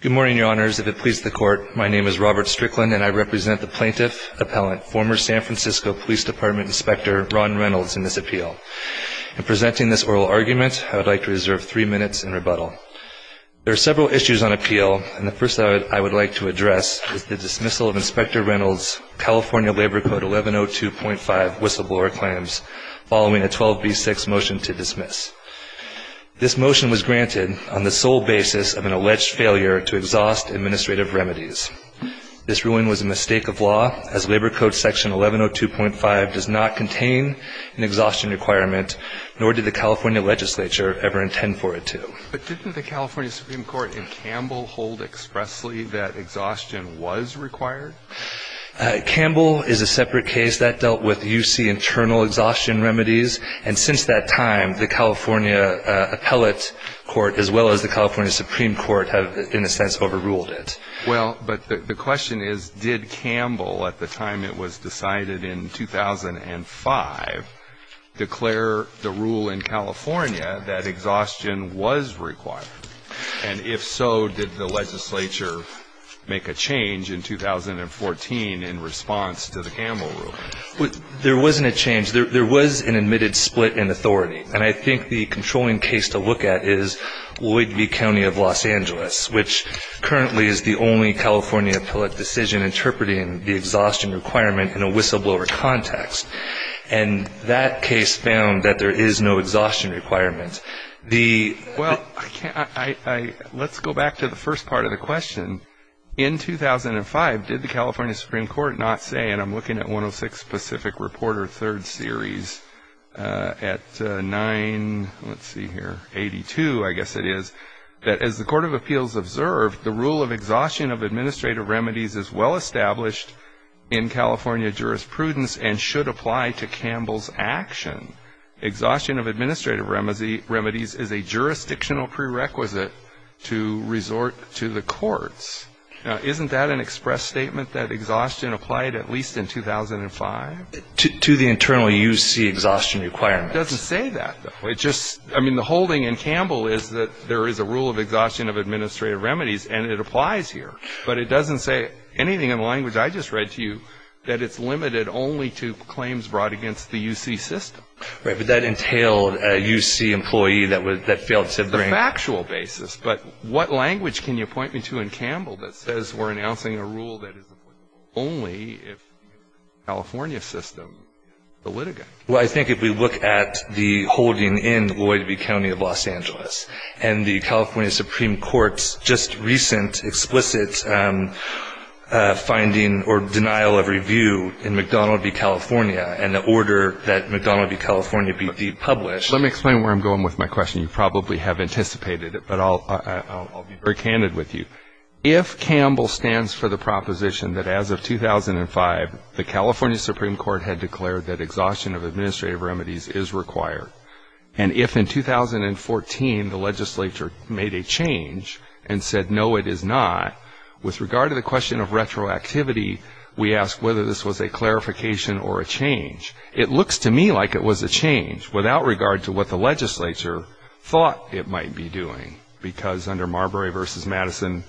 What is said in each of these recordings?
Good morning, your honors. If it pleases the court, my name is Robert Strickland, and I represent the plaintiff, appellant, former San Francisco Police Department Inspector Ron Reynolds in this appeal. In presenting this oral argument, I would like to reserve three minutes in rebuttal. There are several issues on appeal, and the first I would like to address is the dismissal of Inspector Reynolds' California Labor Code 1102.5 whistleblower claims following a 12B6 motion to dismiss. This motion was granted on the sole basis of an alleged failure to exhaust administrative remedies. This ruling was a mistake of law, as Labor Code Section 1102.5 does not contain an exhaustion requirement, nor did the California legislature ever intend for it to. But didn't the California Supreme Court in Campbell hold expressly that exhaustion was required? Campbell is a separate case that dealt with UC internal exhaustion remedies, and since that time, the California appellate court as well as the California Supreme Court have, in a sense, overruled it. Well, but the question is, did Campbell, at the time it was decided in 2005, declare the rule in California that exhaustion was required? And if so, did the legislature make a change in 2014 in response to the Campbell ruling? There wasn't a change. There was an admitted split in authority. And I think the controlling case to look at is Lloyd v. County of Los Angeles, which currently is the only California appellate decision interpreting the exhaustion requirement in a whistleblower context. And that case found that there is no exhaustion requirement. Well, let's go back to the first part of the question. In 2005, did the California Supreme Court not say, and I'm looking at 106 Pacific Reporter, third series, at 982, I guess it is, that as the Court of Appeals observed, the rule of exhaustion of administrative remedies is well established in California jurisprudence and should apply to Campbell's action. Exhaustion of administrative remedies is a jurisdictional prerequisite to resort to the courts. Now, isn't that an express statement that exhaustion applied at least in 2005? To the internal UC exhaustion requirement. It doesn't say that, though. I mean, the holding in Campbell is that there is a rule of exhaustion of administrative remedies, and it applies here. But it doesn't say anything in the language I just read to you that it's limited only to claims brought against the UC system. Right, but that entailed a UC employee that failed to bring The factual basis. But what language can you point me to in Campbell that says we're announcing a rule that is applicable only if the California system is the litigant? Well, I think if we look at the holding in Lloyd v. County of Los Angeles and the California Supreme Court's just recent explicit finding or denial of review in McDonnell v. California and the order that McDonnell v. California be depublished Let me explain where I'm going with my question. You probably have anticipated it, but I'll be very candid with you. If Campbell stands for the proposition that as of 2005, the California Supreme Court had declared that exhaustion of administrative remedies is required, and if in 2014 the legislature made a change and said no, it is not, with regard to the question of retroactivity, we ask whether this was a clarification or a change. It looks to me like it was a change, without regard to what the legislature thought it might be doing, because under Marbury v. Madison,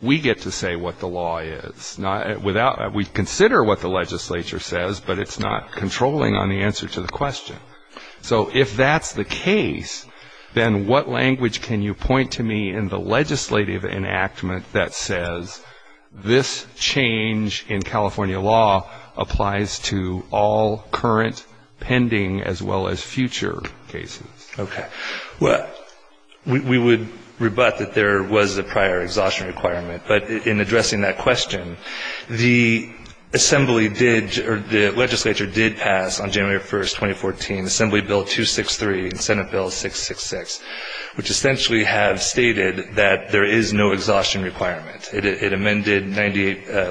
we get to say what the law is. We consider what the legislature says, but it's not controlling on the answer to the question. So if that's the case, then what language can you point to me in the legislative enactment that says this change in California law applies to all current, pending, as well as future cases? Okay. Well, we would rebut that there was a prior exhaustion requirement, but in addressing that question, the assembly did or the legislature did pass on January 1, 2014, Assembly Bill 263 and Senate Bill 666, which essentially have stated that there is no exhaustion requirement. It amended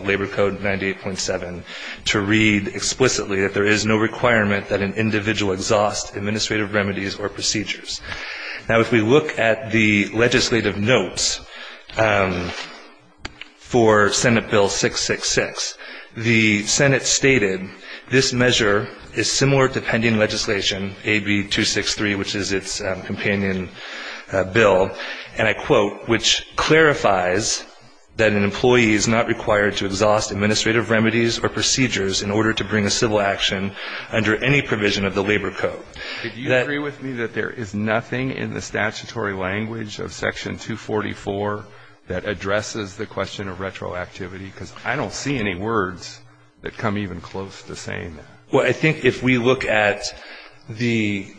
Labor Code 98.7 to read explicitly that there is no requirement that an individual exhaust administrative remedies or procedures. Now, if we look at the legislative notes for Senate Bill 666, the Senate stated this measure is similar to pending legislation, AB 263, which is its companion bill, and I quote, which clarifies that an employee is not required to exhaust administrative remedies or procedures in order to bring a civil action under any provision of the Labor Code. Do you agree with me that there is nothing in the statutory language of Section 244 that addresses the question of retroactivity? Because I don't see any words that come even close to saying that. Well, I think if we look at the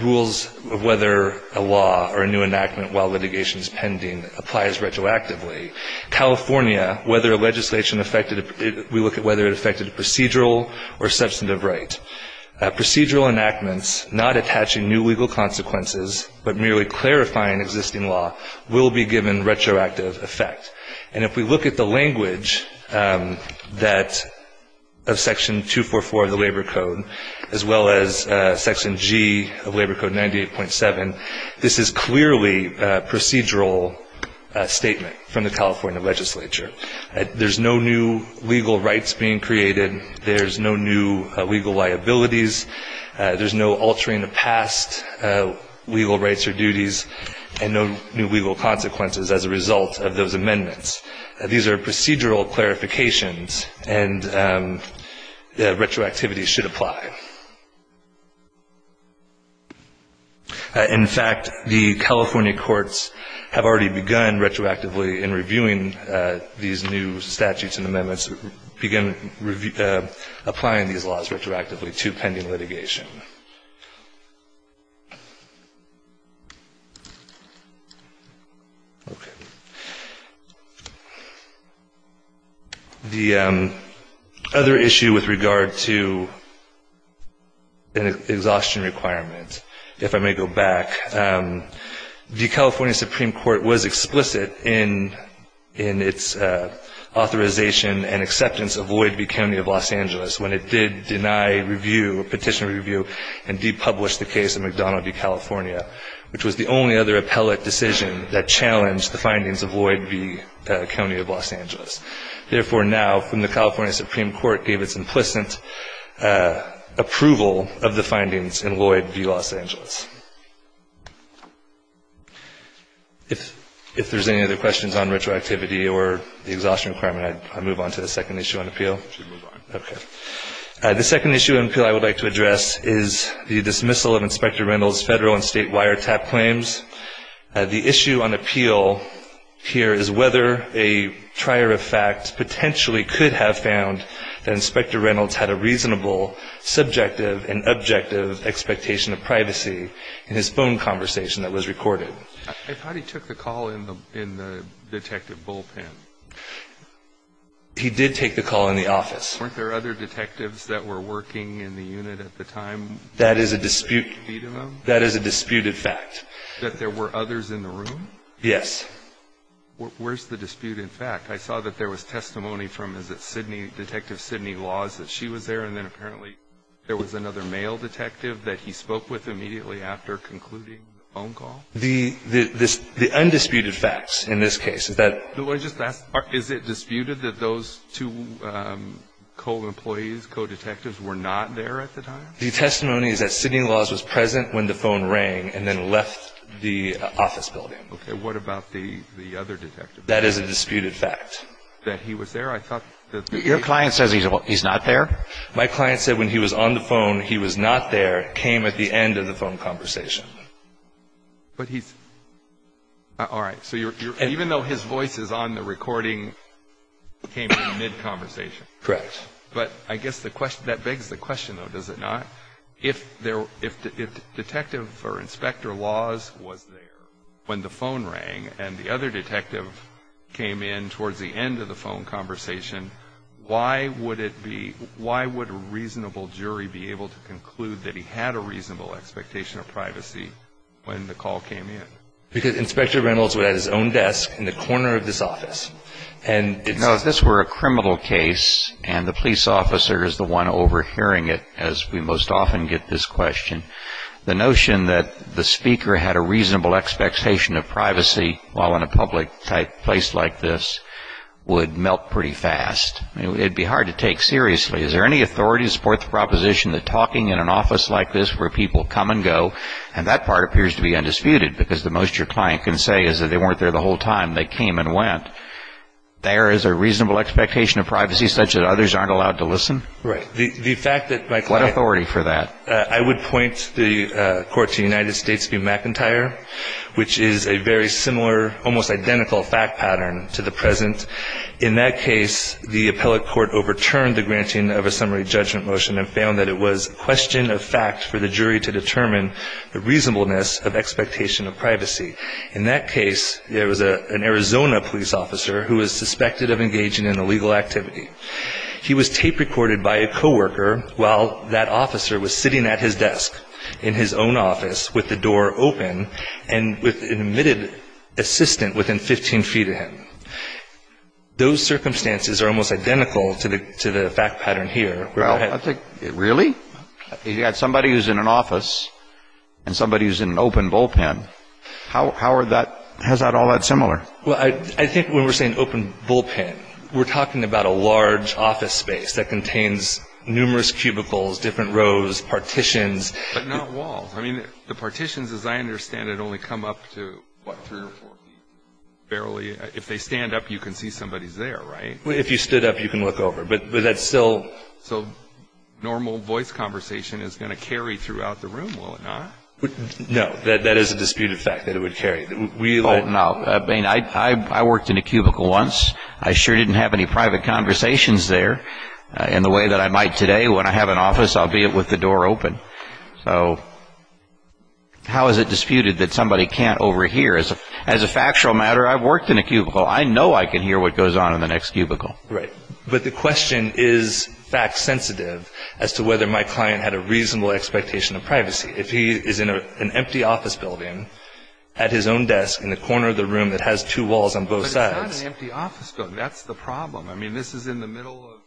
rules of whether a law or a new enactment while litigation is pending applies retroactively, California, whether a legislation affected we look at whether it affected a procedural or substantive right. Procedural enactments not attaching new legal consequences but merely clarifying existing law will be given retroactive effect. And if we look at the language of Section 244 of the Labor Code as well as Section G of Labor Code 98.7, this is clearly a procedural statement from the California legislature. There's no new legal rights being created. There's no new legal liabilities. There's no altering of past legal rights or duties and no new legal consequences as a result of those amendments. These are procedural clarifications and retroactivity should apply. In fact, the California courts have already begun retroactively in reviewing these new statutes and amendments, began applying these laws retroactively to pending litigation. The other issue with regard to an exhaustion requirement, if I may go back, the California Supreme Court was explicit in its authorization and acceptance of Lloyd v. County of Los Angeles. If there's any other questions on retroactivity or the exhaustion requirement, I move on to the second issue on appeal. The second issue on appeal I would like to address is the dismissal of Inspector Reynolds' Federal and State wiretap claims. The issue on appeal here is whether a trier of fact potentially could have found that Inspector Reynolds had a reasonable subjective and objective expectation of privacy in his phone conversation that was recorded. I thought he took the call in the detective bullpen. He did take the call in the office. Weren't there other detectives that were working in the unit at the time? That is a disputed fact. That there were others in the room? Yes. Where's the dispute in fact? I saw that there was testimony from, is it Sidney, Detective Sidney Laws, that she was there and then apparently there was another male detective that he spoke with immediately after concluding the phone call? The undisputed facts in this case is that Is it disputed that those two co-employees, co-detectives were not there at the time? The testimony is that Sidney Laws was present when the phone rang and then left the office building. Okay. What about the other detective? That is a disputed fact. That he was there? I thought that Your client says he's not there? My client said when he was on the phone, he was not there, came at the end of the phone conversation. But he's, alright, so even though his voice is on the recording, came in mid-conversation. Correct. But I guess that begs the question though, does it not? If Detective or Inspector Laws was there when the phone rang and the other detective came in towards the end of the phone conversation, why would it be, why would a reasonable jury be able to conclude that he had a reasonable expectation of privacy when the call came in? Because Inspector Reynolds was at his own desk in the corner of this office and No, if this were a criminal case and the police officer is the one overhearing it, as we most often get this question, the notion that the speaker had a reasonable expectation of privacy while in a public place like this would melt pretty fast. It would be hard to take seriously. Is there any authority to support the proposition that talking in an office like this where people come and go, and that part appears to be undisputed because the most your client can say is that they weren't there the whole time, they came and went, there is a reasonable expectation of privacy such that others aren't allowed to listen? Right. The fact that my client What authority for that? I would point the court to the United States v. McIntyre, which is a very similar, almost identical fact pattern to the present. In that case, the appellate court overturned the granting of a summary judgment motion and found that it was a question of fact for the jury to determine the reasonableness of expectation of privacy. In that case, there was an Arizona police officer who was suspected of engaging in illegal activity. He was tape recorded by a coworker while that officer was sitting at his desk in his own office with the door open and with an admitted assistant within 15 feet of him. Those circumstances are almost identical to the fact pattern here. Really? You've got somebody who's in an office and somebody who's in an open bullpen. How are that, how is that all that similar? Well, I think when we're saying open bullpen, we're talking about a large office space that contains numerous cubicles, different rows, partitions. But not walls. I mean, the partitions, as I understand it, only come up to, what, three or four feet? Barely. If they stand up, you can see somebody's there, right? If you stood up, you can look over. But that's still So normal voice conversation is going to carry throughout the room, will it not? No. That is a disputed fact that it would carry. I worked in a cubicle once. I sure didn't have any private conversations there in the way that I might today. When I have an office, I'll be with the door open. So how is it disputed that somebody can't overhear? As a factual matter, I've worked in a cubicle. I know I can hear what goes on in the next cubicle. Right. But the question is fact sensitive as to whether my client had a reasonable expectation of privacy. If he is in an empty office building at his own desk in the corner of the room that has two walls on both sides But it's not an empty office building. That's the problem. I mean, this is in the middle of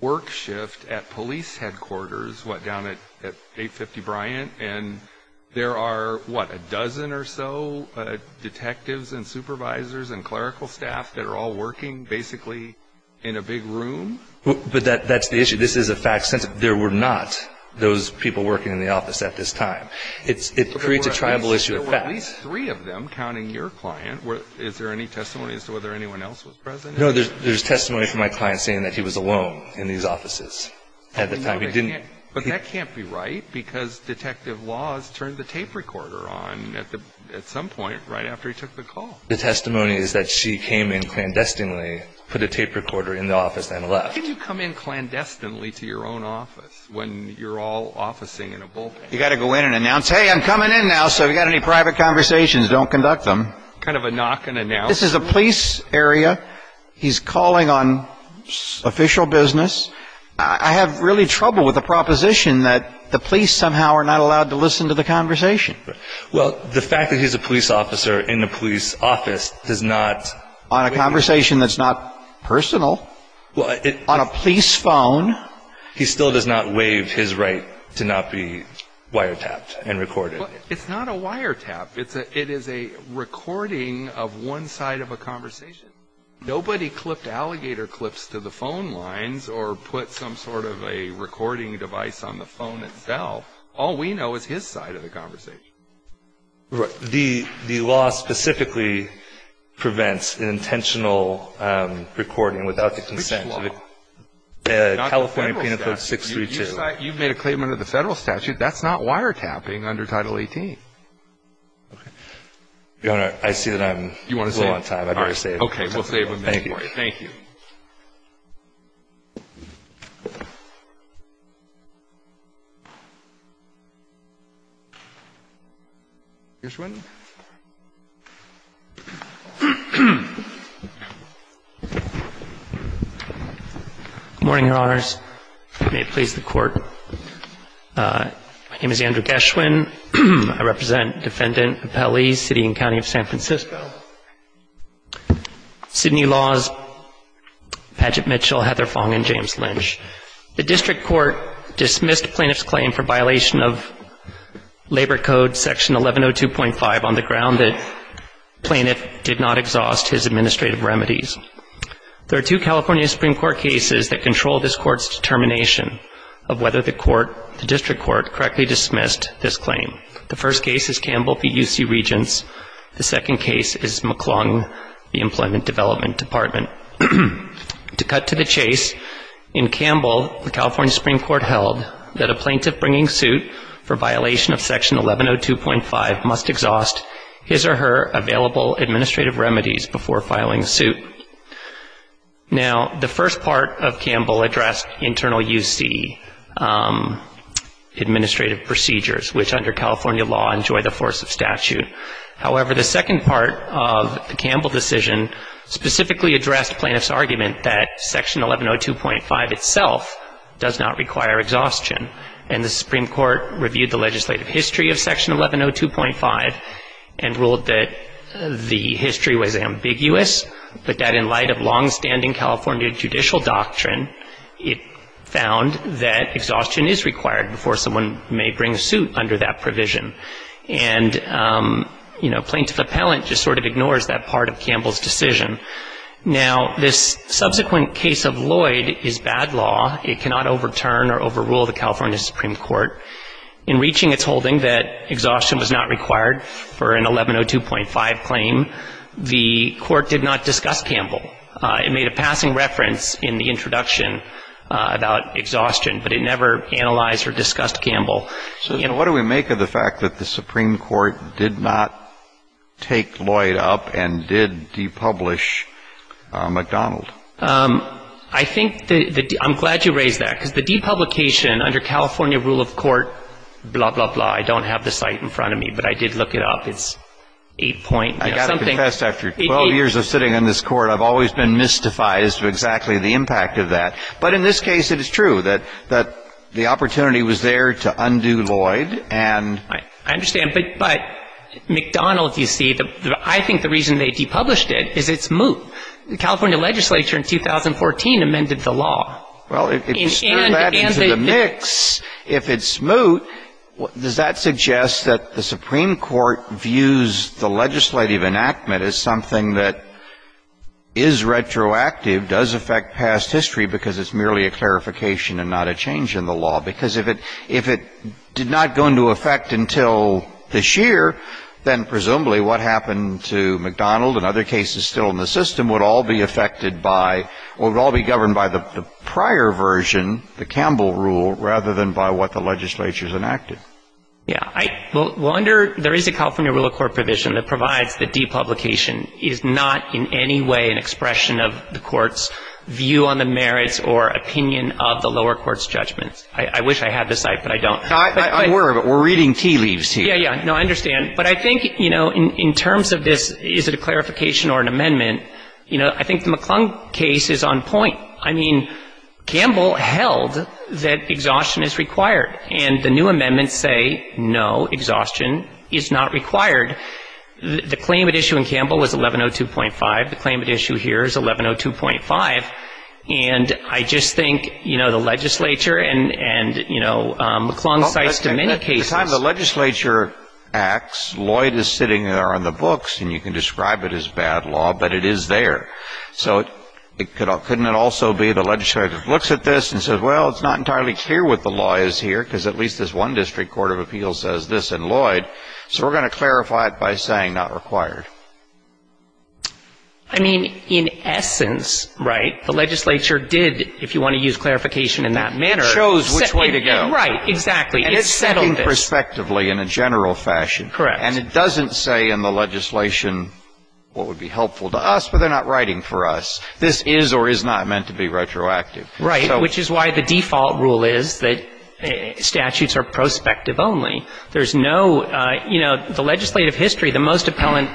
work shift at police headquarters, what, down at 850 Bryant. And there are, what, a dozen or so detectives and supervisors and clerical staff that are all working basically in a big room? But that's the issue. This is a fact sensitive. There were not those people working in the office at this time. It creates a tribal issue of fact. There were at least three of them, counting your client. Is there any testimony as to whether anyone else was present? No, there's testimony from my client saying that he was alone in these offices at the time. But that can't be right because Detective Laws turned the tape recorder on at some point right after he took the call. The testimony is that she came in clandestinely, put a tape recorder in the office and left. How can you come in clandestinely to your own office when you're all officing in a bullpen? You've got to go in and announce, hey, I'm coming in now, so if you've got any private conversations, don't conduct them. Kind of a knock and announce. This is a police area. He's calling on official business. I have really trouble with the proposition that the police somehow are not allowed to listen to the conversation. Well, the fact that he's a police officer in the police office does not... On a conversation that's not personal. On a police phone. He still does not waive his right to not be wiretapped and recorded. It's not a wiretap. It is a recording of one side of a conversation. Nobody clipped alligator clips to the phone lines or put some sort of a recording device on the phone itself. All we know is his side of the conversation. The law specifically prevents intentional recording without the consent of... Which law? California Penal Code 632. You've made a claim under the federal statute. That's not wiretapping under Title 18. Your Honor, I see that I'm a little on time. I better save it. Okay, we'll save it for you. Thank you. Thank you. Gershwin. Good morning, Your Honors. May it please the Court. My name is Andrew Gershwin. I represent Defendant Appelli, City and County of San Francisco. Sydney Laws, Padgett Mitchell, Heather Fong, and James Lynch. The District Court dismissed Plaintiff's claim for violation of Labor Code Section 1102.5 on the ground that Plaintiff did not exhaust his administrative remedies. There are two California Supreme Court cases that control this Court's determination of whether the District Court correctly dismissed this claim. The first case is Campbell v. UC Regents. The second case is McClung v. Employment Development Department. To cut to the chase, in Campbell, the California Supreme Court held that a plaintiff bringing suit for violation of Section 1102.5 must exhaust his or her available administrative remedies before filing a suit. Now, the first part of Campbell addressed internal UC administrative procedures, however, the second part of the Campbell decision specifically addressed Plaintiff's argument that Section 1102.5 itself does not require exhaustion, and the Supreme Court reviewed the legislative history of Section 1102.5 and ruled that the history was ambiguous, but that in light of longstanding California judicial doctrine, it found that exhaustion is required before someone may bring suit under that provision. And, you know, Plaintiff Appellant just sort of ignores that part of Campbell's decision. Now, this subsequent case of Lloyd is bad law. It cannot overturn or overrule the California Supreme Court. In reaching its holding that exhaustion was not required for an 1102.5 claim, the Court did not discuss Campbell. It made a passing reference in the introduction about exhaustion, but it never analyzed or discussed Campbell. So, you know, what do we make of the fact that the Supreme Court did not take Lloyd up and did depublish McDonald? I think the ‑‑ I'm glad you raised that, because the depublication under California rule of court, blah, blah, blah, I don't have the site in front of me, but I did look it up. It's 8 point something. I got to confess, after 12 years of sitting on this Court, I've always been mystified as to exactly the impact of that. But in this case, it is true that the opportunity was there to undo Lloyd and ‑‑ I understand. But McDonald, you see, I think the reason they depublished it is it's moot. The California legislature in 2014 amended the law. Well, if you stir that into the mix, if it's moot, does that suggest that the Supreme Court views the legislative enactment as something that is retroactive, does affect past history, because it's merely a clarification and not a change in the law? Because if it did not go into effect until this year, then presumably what happened to McDonald and other cases still in the system would all be affected by ‑‑ or would all be governed by the prior version, the Campbell rule, rather than by what the legislature has enacted. Yeah. Well, under ‑‑ there is a California rule of court provision that provides that depublication is not in any way an expression of the court's view on the merits or opinion of the lower court's judgment. I wish I had the cite, but I don't. I'm aware of it. We're reading tea leaves here. Yeah, yeah. No, I understand. But I think, you know, in terms of this, is it a clarification or an amendment, you know, I think the McClung case is on point. I mean, Campbell held that exhaustion is required. And the new amendments say no, exhaustion is not required. The claim at issue in Campbell was 1102.5. The claim at issue here is 1102.5. And I just think, you know, the legislature and, you know, McClung cites to many cases. At the time the legislature acts, Lloyd is sitting there on the books, and you can describe it as bad law, but it is there. So couldn't it also be the legislature looks at this and says, well, it's not entirely clear what the law is here, because at least this one district court of appeals says this in Lloyd. So we're going to clarify it by saying not required. I mean, in essence, right, the legislature did, if you want to use clarification in that manner. Chose which way to go. Right. Exactly. And it settled it. And it's thinking prospectively in a general fashion. Correct. And it doesn't say in the legislation what would be helpful to us, but they're not writing for us. This is or is not meant to be retroactive. Right, which is why the default rule is that statutes are prospective only. There's no, you know, the legislative history, the most appellant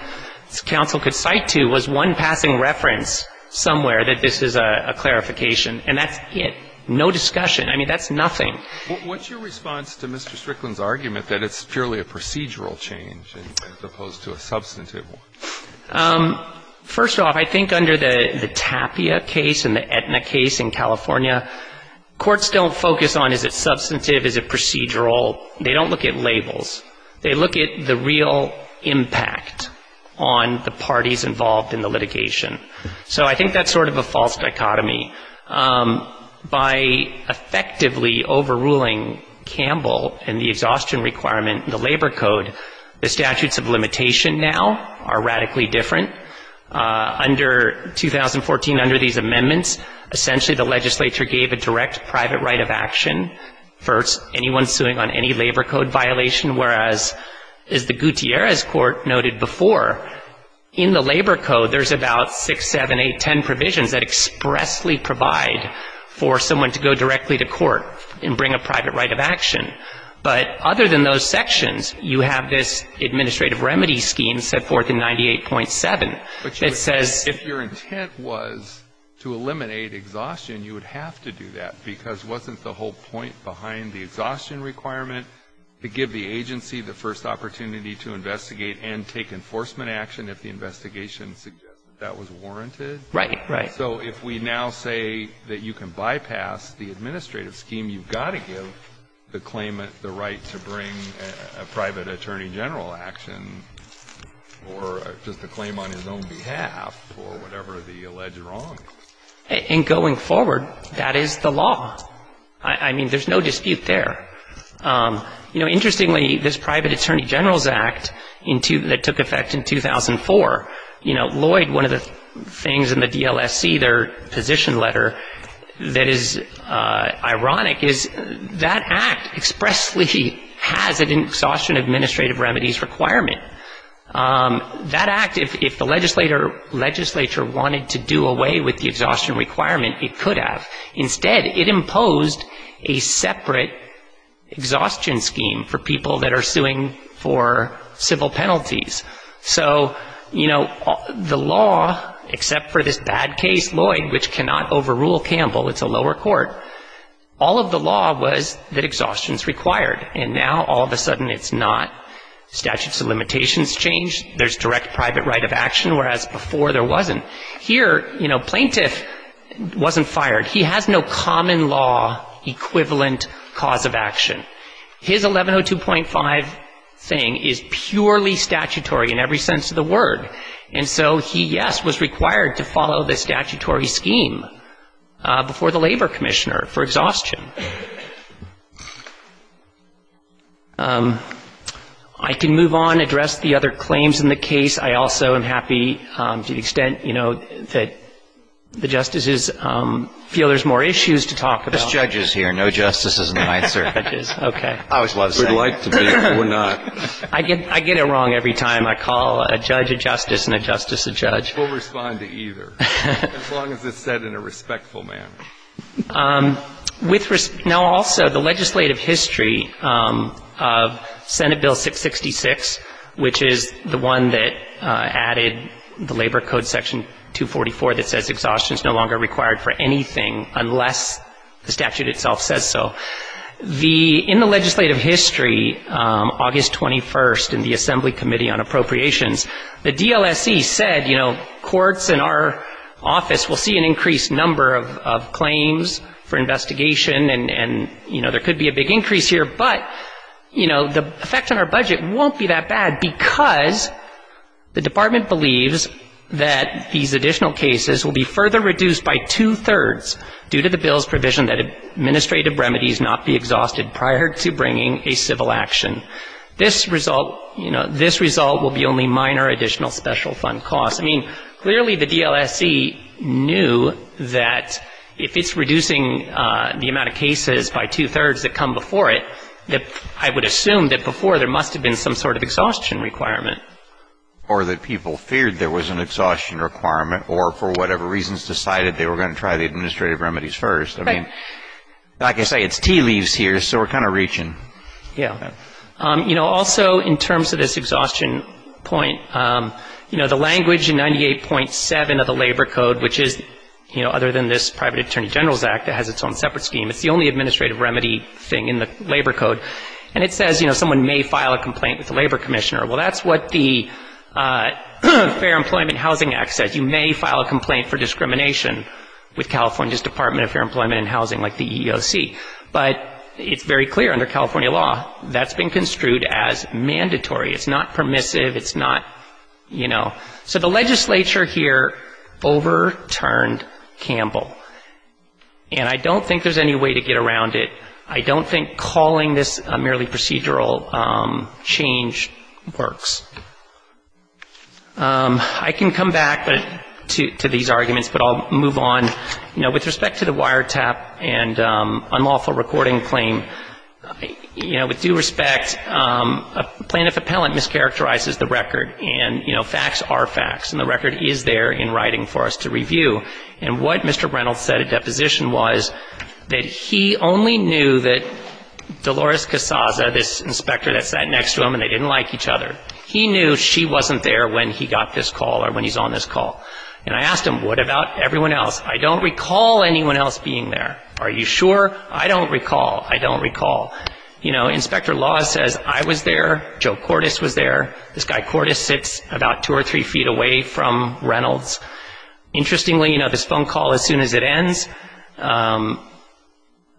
counsel could cite to was one passing reference somewhere that this is a clarification. And that's it. No discussion. I mean, that's nothing. What's your response to Mr. Strickland's argument that it's purely a procedural change as opposed to a substantive one? First off, I think under the Tapia case and the Aetna case in California, courts don't focus on is it substantive, is it procedural. They don't look at labels. They look at the real impact on the parties involved in the litigation. So I think that's sort of a false dichotomy. By effectively overruling Campbell and the exhaustion requirement in the Labor Code, the statutes of limitation now are radically different. Under 2014, under these amendments, essentially the legislature gave a direct private right of action. First, anyone suing on any Labor Code violation, whereas, as the Gutierrez court noted before, in the Labor Code, there's about six, seven, eight, ten provisions that expressly provide for someone to go directly to court and bring a private right of action. But other than those sections, you have this administrative remedy scheme set forth in 98.7 that says If your intent was to eliminate exhaustion, you would have to do that, because wasn't the whole point behind the exhaustion requirement to give the agency the first opportunity to investigate and take enforcement action if the investigation suggested that was warranted? Right. Right. So if we now say that you can bypass the administrative scheme, you've got to give the claimant the right to bring a private attorney general action or just a claim on his own behalf for whatever the alleged wrong. And going forward, that is the law. I mean, there's no dispute there. You know, interestingly, this Private Attorney Generals Act that took effect in 2004, you know, Lloyd, one of the things in the DLSC, their position letter, that is that act expressly has an exhaustion administrative remedies requirement. That act, if the legislature wanted to do away with the exhaustion requirement, it could have. Instead, it imposed a separate exhaustion scheme for people that are suing for civil penalties. So, you know, the law, except for this bad case, Lloyd, which cannot overrule Campbell, it's a lower court. All of the law was that exhaustion is required. And now all of a sudden it's not. Statutes of limitations change. There's direct private right of action, whereas before there wasn't. Here, you know, plaintiff wasn't fired. He has no common law equivalent cause of action. His 1102.5 thing is purely statutory in every sense of the word. And so he, yes, was required to follow the statutory scheme before the Labor Commissioner for exhaustion. I can move on, address the other claims in the case. I also am happy, to the extent, you know, that the justices feel there's more issues to talk about. Breyer. No justice is an answer. Gershengorn. Breyer. We'd like to be, but we're not. Gershengorn. I get it wrong every time I call a judge a justice and a justice a judge. Breyer. We'll respond to either, as long as it's said in a respectful manner. Now, also, the legislative history of Senate Bill 666, which is the one that added the Labor Code Section 244 that says exhaustion is no longer required for anything unless the statute itself says so. In the legislative history, August 21st, in the Assembly Committee on Appropriations, the DLSC said, you know, courts in our office will see an increased number of claims for investigation and, you know, there could be a big increase here, but, you know, the effect on our budget won't be that bad because the Department believes that these additional cases will be further reduced by two-thirds due to the bill's provision that administrative remedies not be exhausted prior to bringing a civil action. This result, you know, this result will be only minor additional special fund costs. I mean, clearly the DLSC knew that if it's reducing the amount of cases by two-thirds that come before it, that I would assume that before there must have been some sort of exhaustion requirement. Gershengorn. Or that people feared there was an exhaustion requirement or, for whatever reasons, decided they were going to try the administrative remedies first. I mean, like I say, it's tea leaves here, so we're kind of reaching. Yeah. You know, also in terms of this exhaustion point, you know, the language in 98.7 of the Labor Code, which is, you know, other than this Private Attorney General's Act that has its own separate scheme, it's the only administrative remedy thing in the Labor Code, and it says, you know, someone may file a complaint with the Labor Commissioner. Well, that's what the Fair Employment and Housing Act says. You may file a complaint for discrimination with California's Department of Fair Employment and Housing, like the EEOC. But it's very clear under California law that's been construed as mandatory. It's not permissive. It's not, you know. So the legislature here overturned Campbell. And I don't think there's any way to get around it. I don't think calling this a merely procedural change works. I can come back to these arguments, but I'll move on. You know, with respect to the wiretap and unlawful recording claim, you know, with due respect, plaintiff appellant mischaracterizes the record, and, you know, facts are facts. And the record is there in writing for us to review. And what Mr. Reynolds said at deposition was that he only knew that Dolores Casaza, this inspector that sat next to him and they didn't like each other, he knew she wasn't there when he got this call or when he's on this call. And I asked him, what about everyone else? I don't recall anyone else being there. Are you sure? I don't recall. I don't recall. You know, Inspector Laws says I was there, Joe Cordes was there. This guy Cordes sits about two or three feet away from Reynolds. Interestingly, you know, this phone call, as soon as it ends,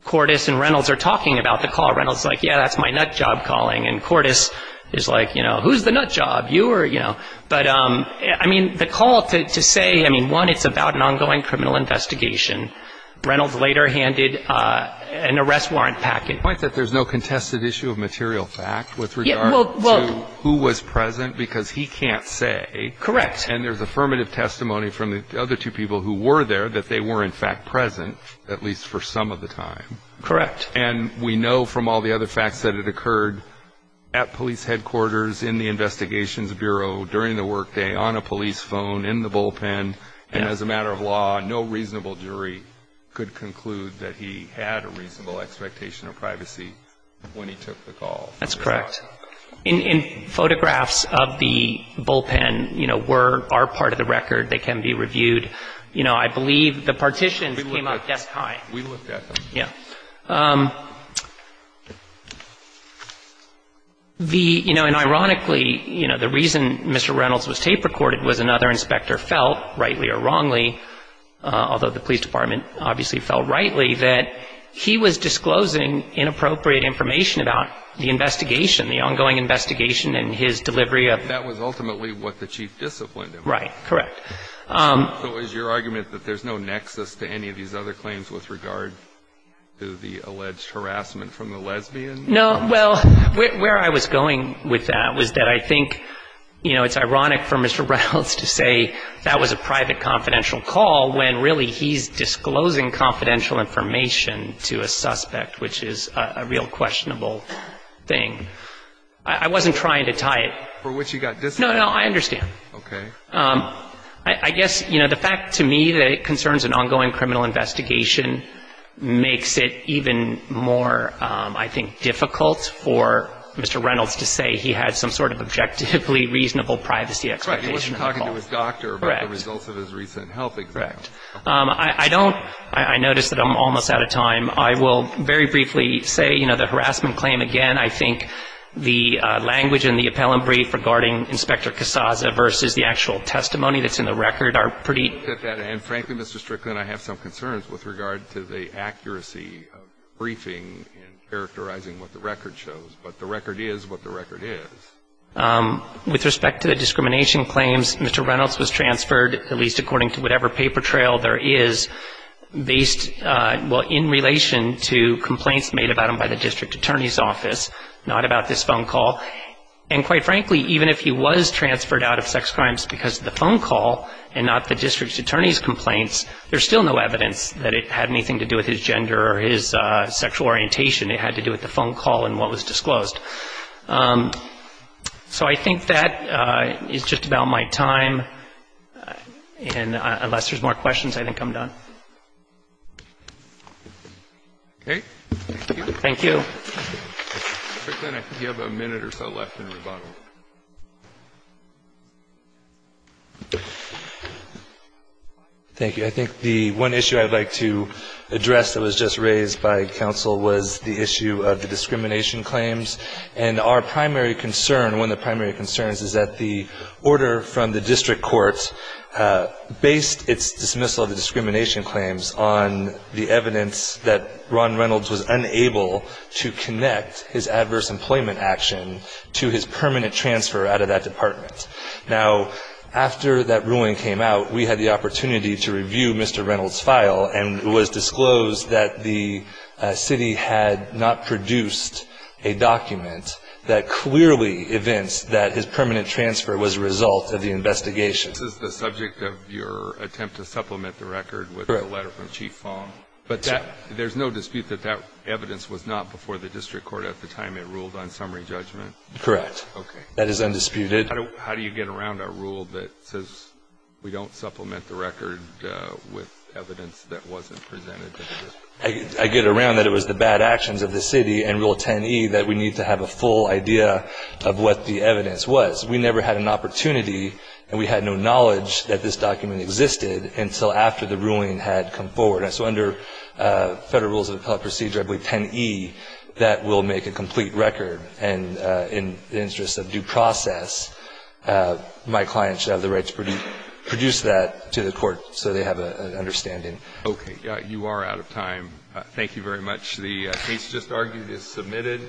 Cordes and Reynolds are talking about the call. Reynolds is like, yeah, that's my nut job calling. And Cordes is like, you know, who's the nut job, you or, you know. But, I mean, the call to say, I mean, one, it's about an ongoing criminal investigation. Reynolds later handed an arrest warrant package. The point is that there's no contested issue of material fact with regard to who was present because he can't say. Correct. And there's affirmative testimony from the other two people who were there that they were in fact present, at least for some of the time. Correct. And we know from all the other facts that it occurred at police headquarters in the Investigations Bureau, during the workday, on a police phone, in the bullpen, and as a matter of law, no reasonable jury could conclude that he had a reasonable expectation of privacy when he took the call. That's correct. In photographs of the bullpen, you know, were, are part of the record that can be reviewed. You know, I believe the partitions came up desk-high. We looked at them. Yeah. The, you know, and ironically, you know, the reason Mr. Reynolds was tape recorded was another inspector felt, rightly or wrongly, although the police department obviously felt rightly, that he was disclosing inappropriate information about the investigation, the ongoing investigation and his delivery of. That was ultimately what the chief disciplined him. Right. Correct. So is your argument that there's no nexus to any of these other claims with regard to the alleged harassment from the lesbian? No. Well, where I was going with that was that I think, you know, it's ironic for Mr. Reynolds to say that was a private confidential call when really he's disclosing confidential information to a suspect, which is a real questionable thing. I wasn't trying to tie it. For which he got disciplined. No, no, I understand. Okay. I guess, you know, the fact to me that it concerns an ongoing criminal investigation makes it even more, I think, difficult for Mr. Reynolds to say he had some sort of objectively reasonable privacy expectation on the call. Right. He wasn't talking to his doctor about the results of his recent health exam. Correct. I don't – I notice that I'm almost out of time. I will very briefly say, you know, the harassment claim again, I think the language in the appellant brief regarding Inspector Casaza versus the actual testimony that's in the record are pretty – And frankly, Mr. Strickland, I have some concerns with regard to the accuracy of the briefing and characterizing what the record shows. But the record is what the record is. With respect to the discrimination claims, Mr. Reynolds was transferred, at least according to whatever paper trail there is, based, well, in relation to complaints made about him by the district attorney's office, not about this phone call. And quite frankly, even if he was transferred out of sex crimes because of the phone call and not the district attorney's complaints, there's still no evidence that it had anything to do with his gender or his sexual orientation. It had to do with the phone call and what was disclosed. So I think that is just about my time. And unless there's more questions, I think I'm done. Okay. Thank you. Thank you. Mr. Strickland, I think you have a minute or so left in rebuttal. Thank you. I think the one issue I'd like to address that was just raised by counsel was the issue of the discrimination claims. And our primary concern, one of the primary concerns, is that the order from the district court based its dismissal of the discrimination claims on the evidence that Ron Reynolds was unable to connect his adverse employment action to his permanent transfer out of that department. Now, after that ruling came out, we had the opportunity to review Mr. Reynolds' file, and it was disclosed that the city had not produced a document that clearly evinced that his permanent transfer was a result of the investigation. This is the subject of your attempt to supplement the record with a letter from Chief Fong. Correct. But there's no dispute that that evidence was not before the district court at the time it ruled on summary judgment? Correct. Okay. That is undisputed. How do you get around a rule that says we don't supplement the record with evidence that wasn't presented to the district? I get around that it was the bad actions of the city and Rule 10e that we need to have a full idea of what the evidence was. We never had an opportunity, and we had no knowledge that this document existed until after the ruling had come forward. So under Federal Rules of Appellate Procedure, I believe 10e, that will make a complete record, and in the interest of due process, my client should have the right to produce that to the court so they have an understanding. Okay. You are out of time. Thank you very much. The case just argued is submitted.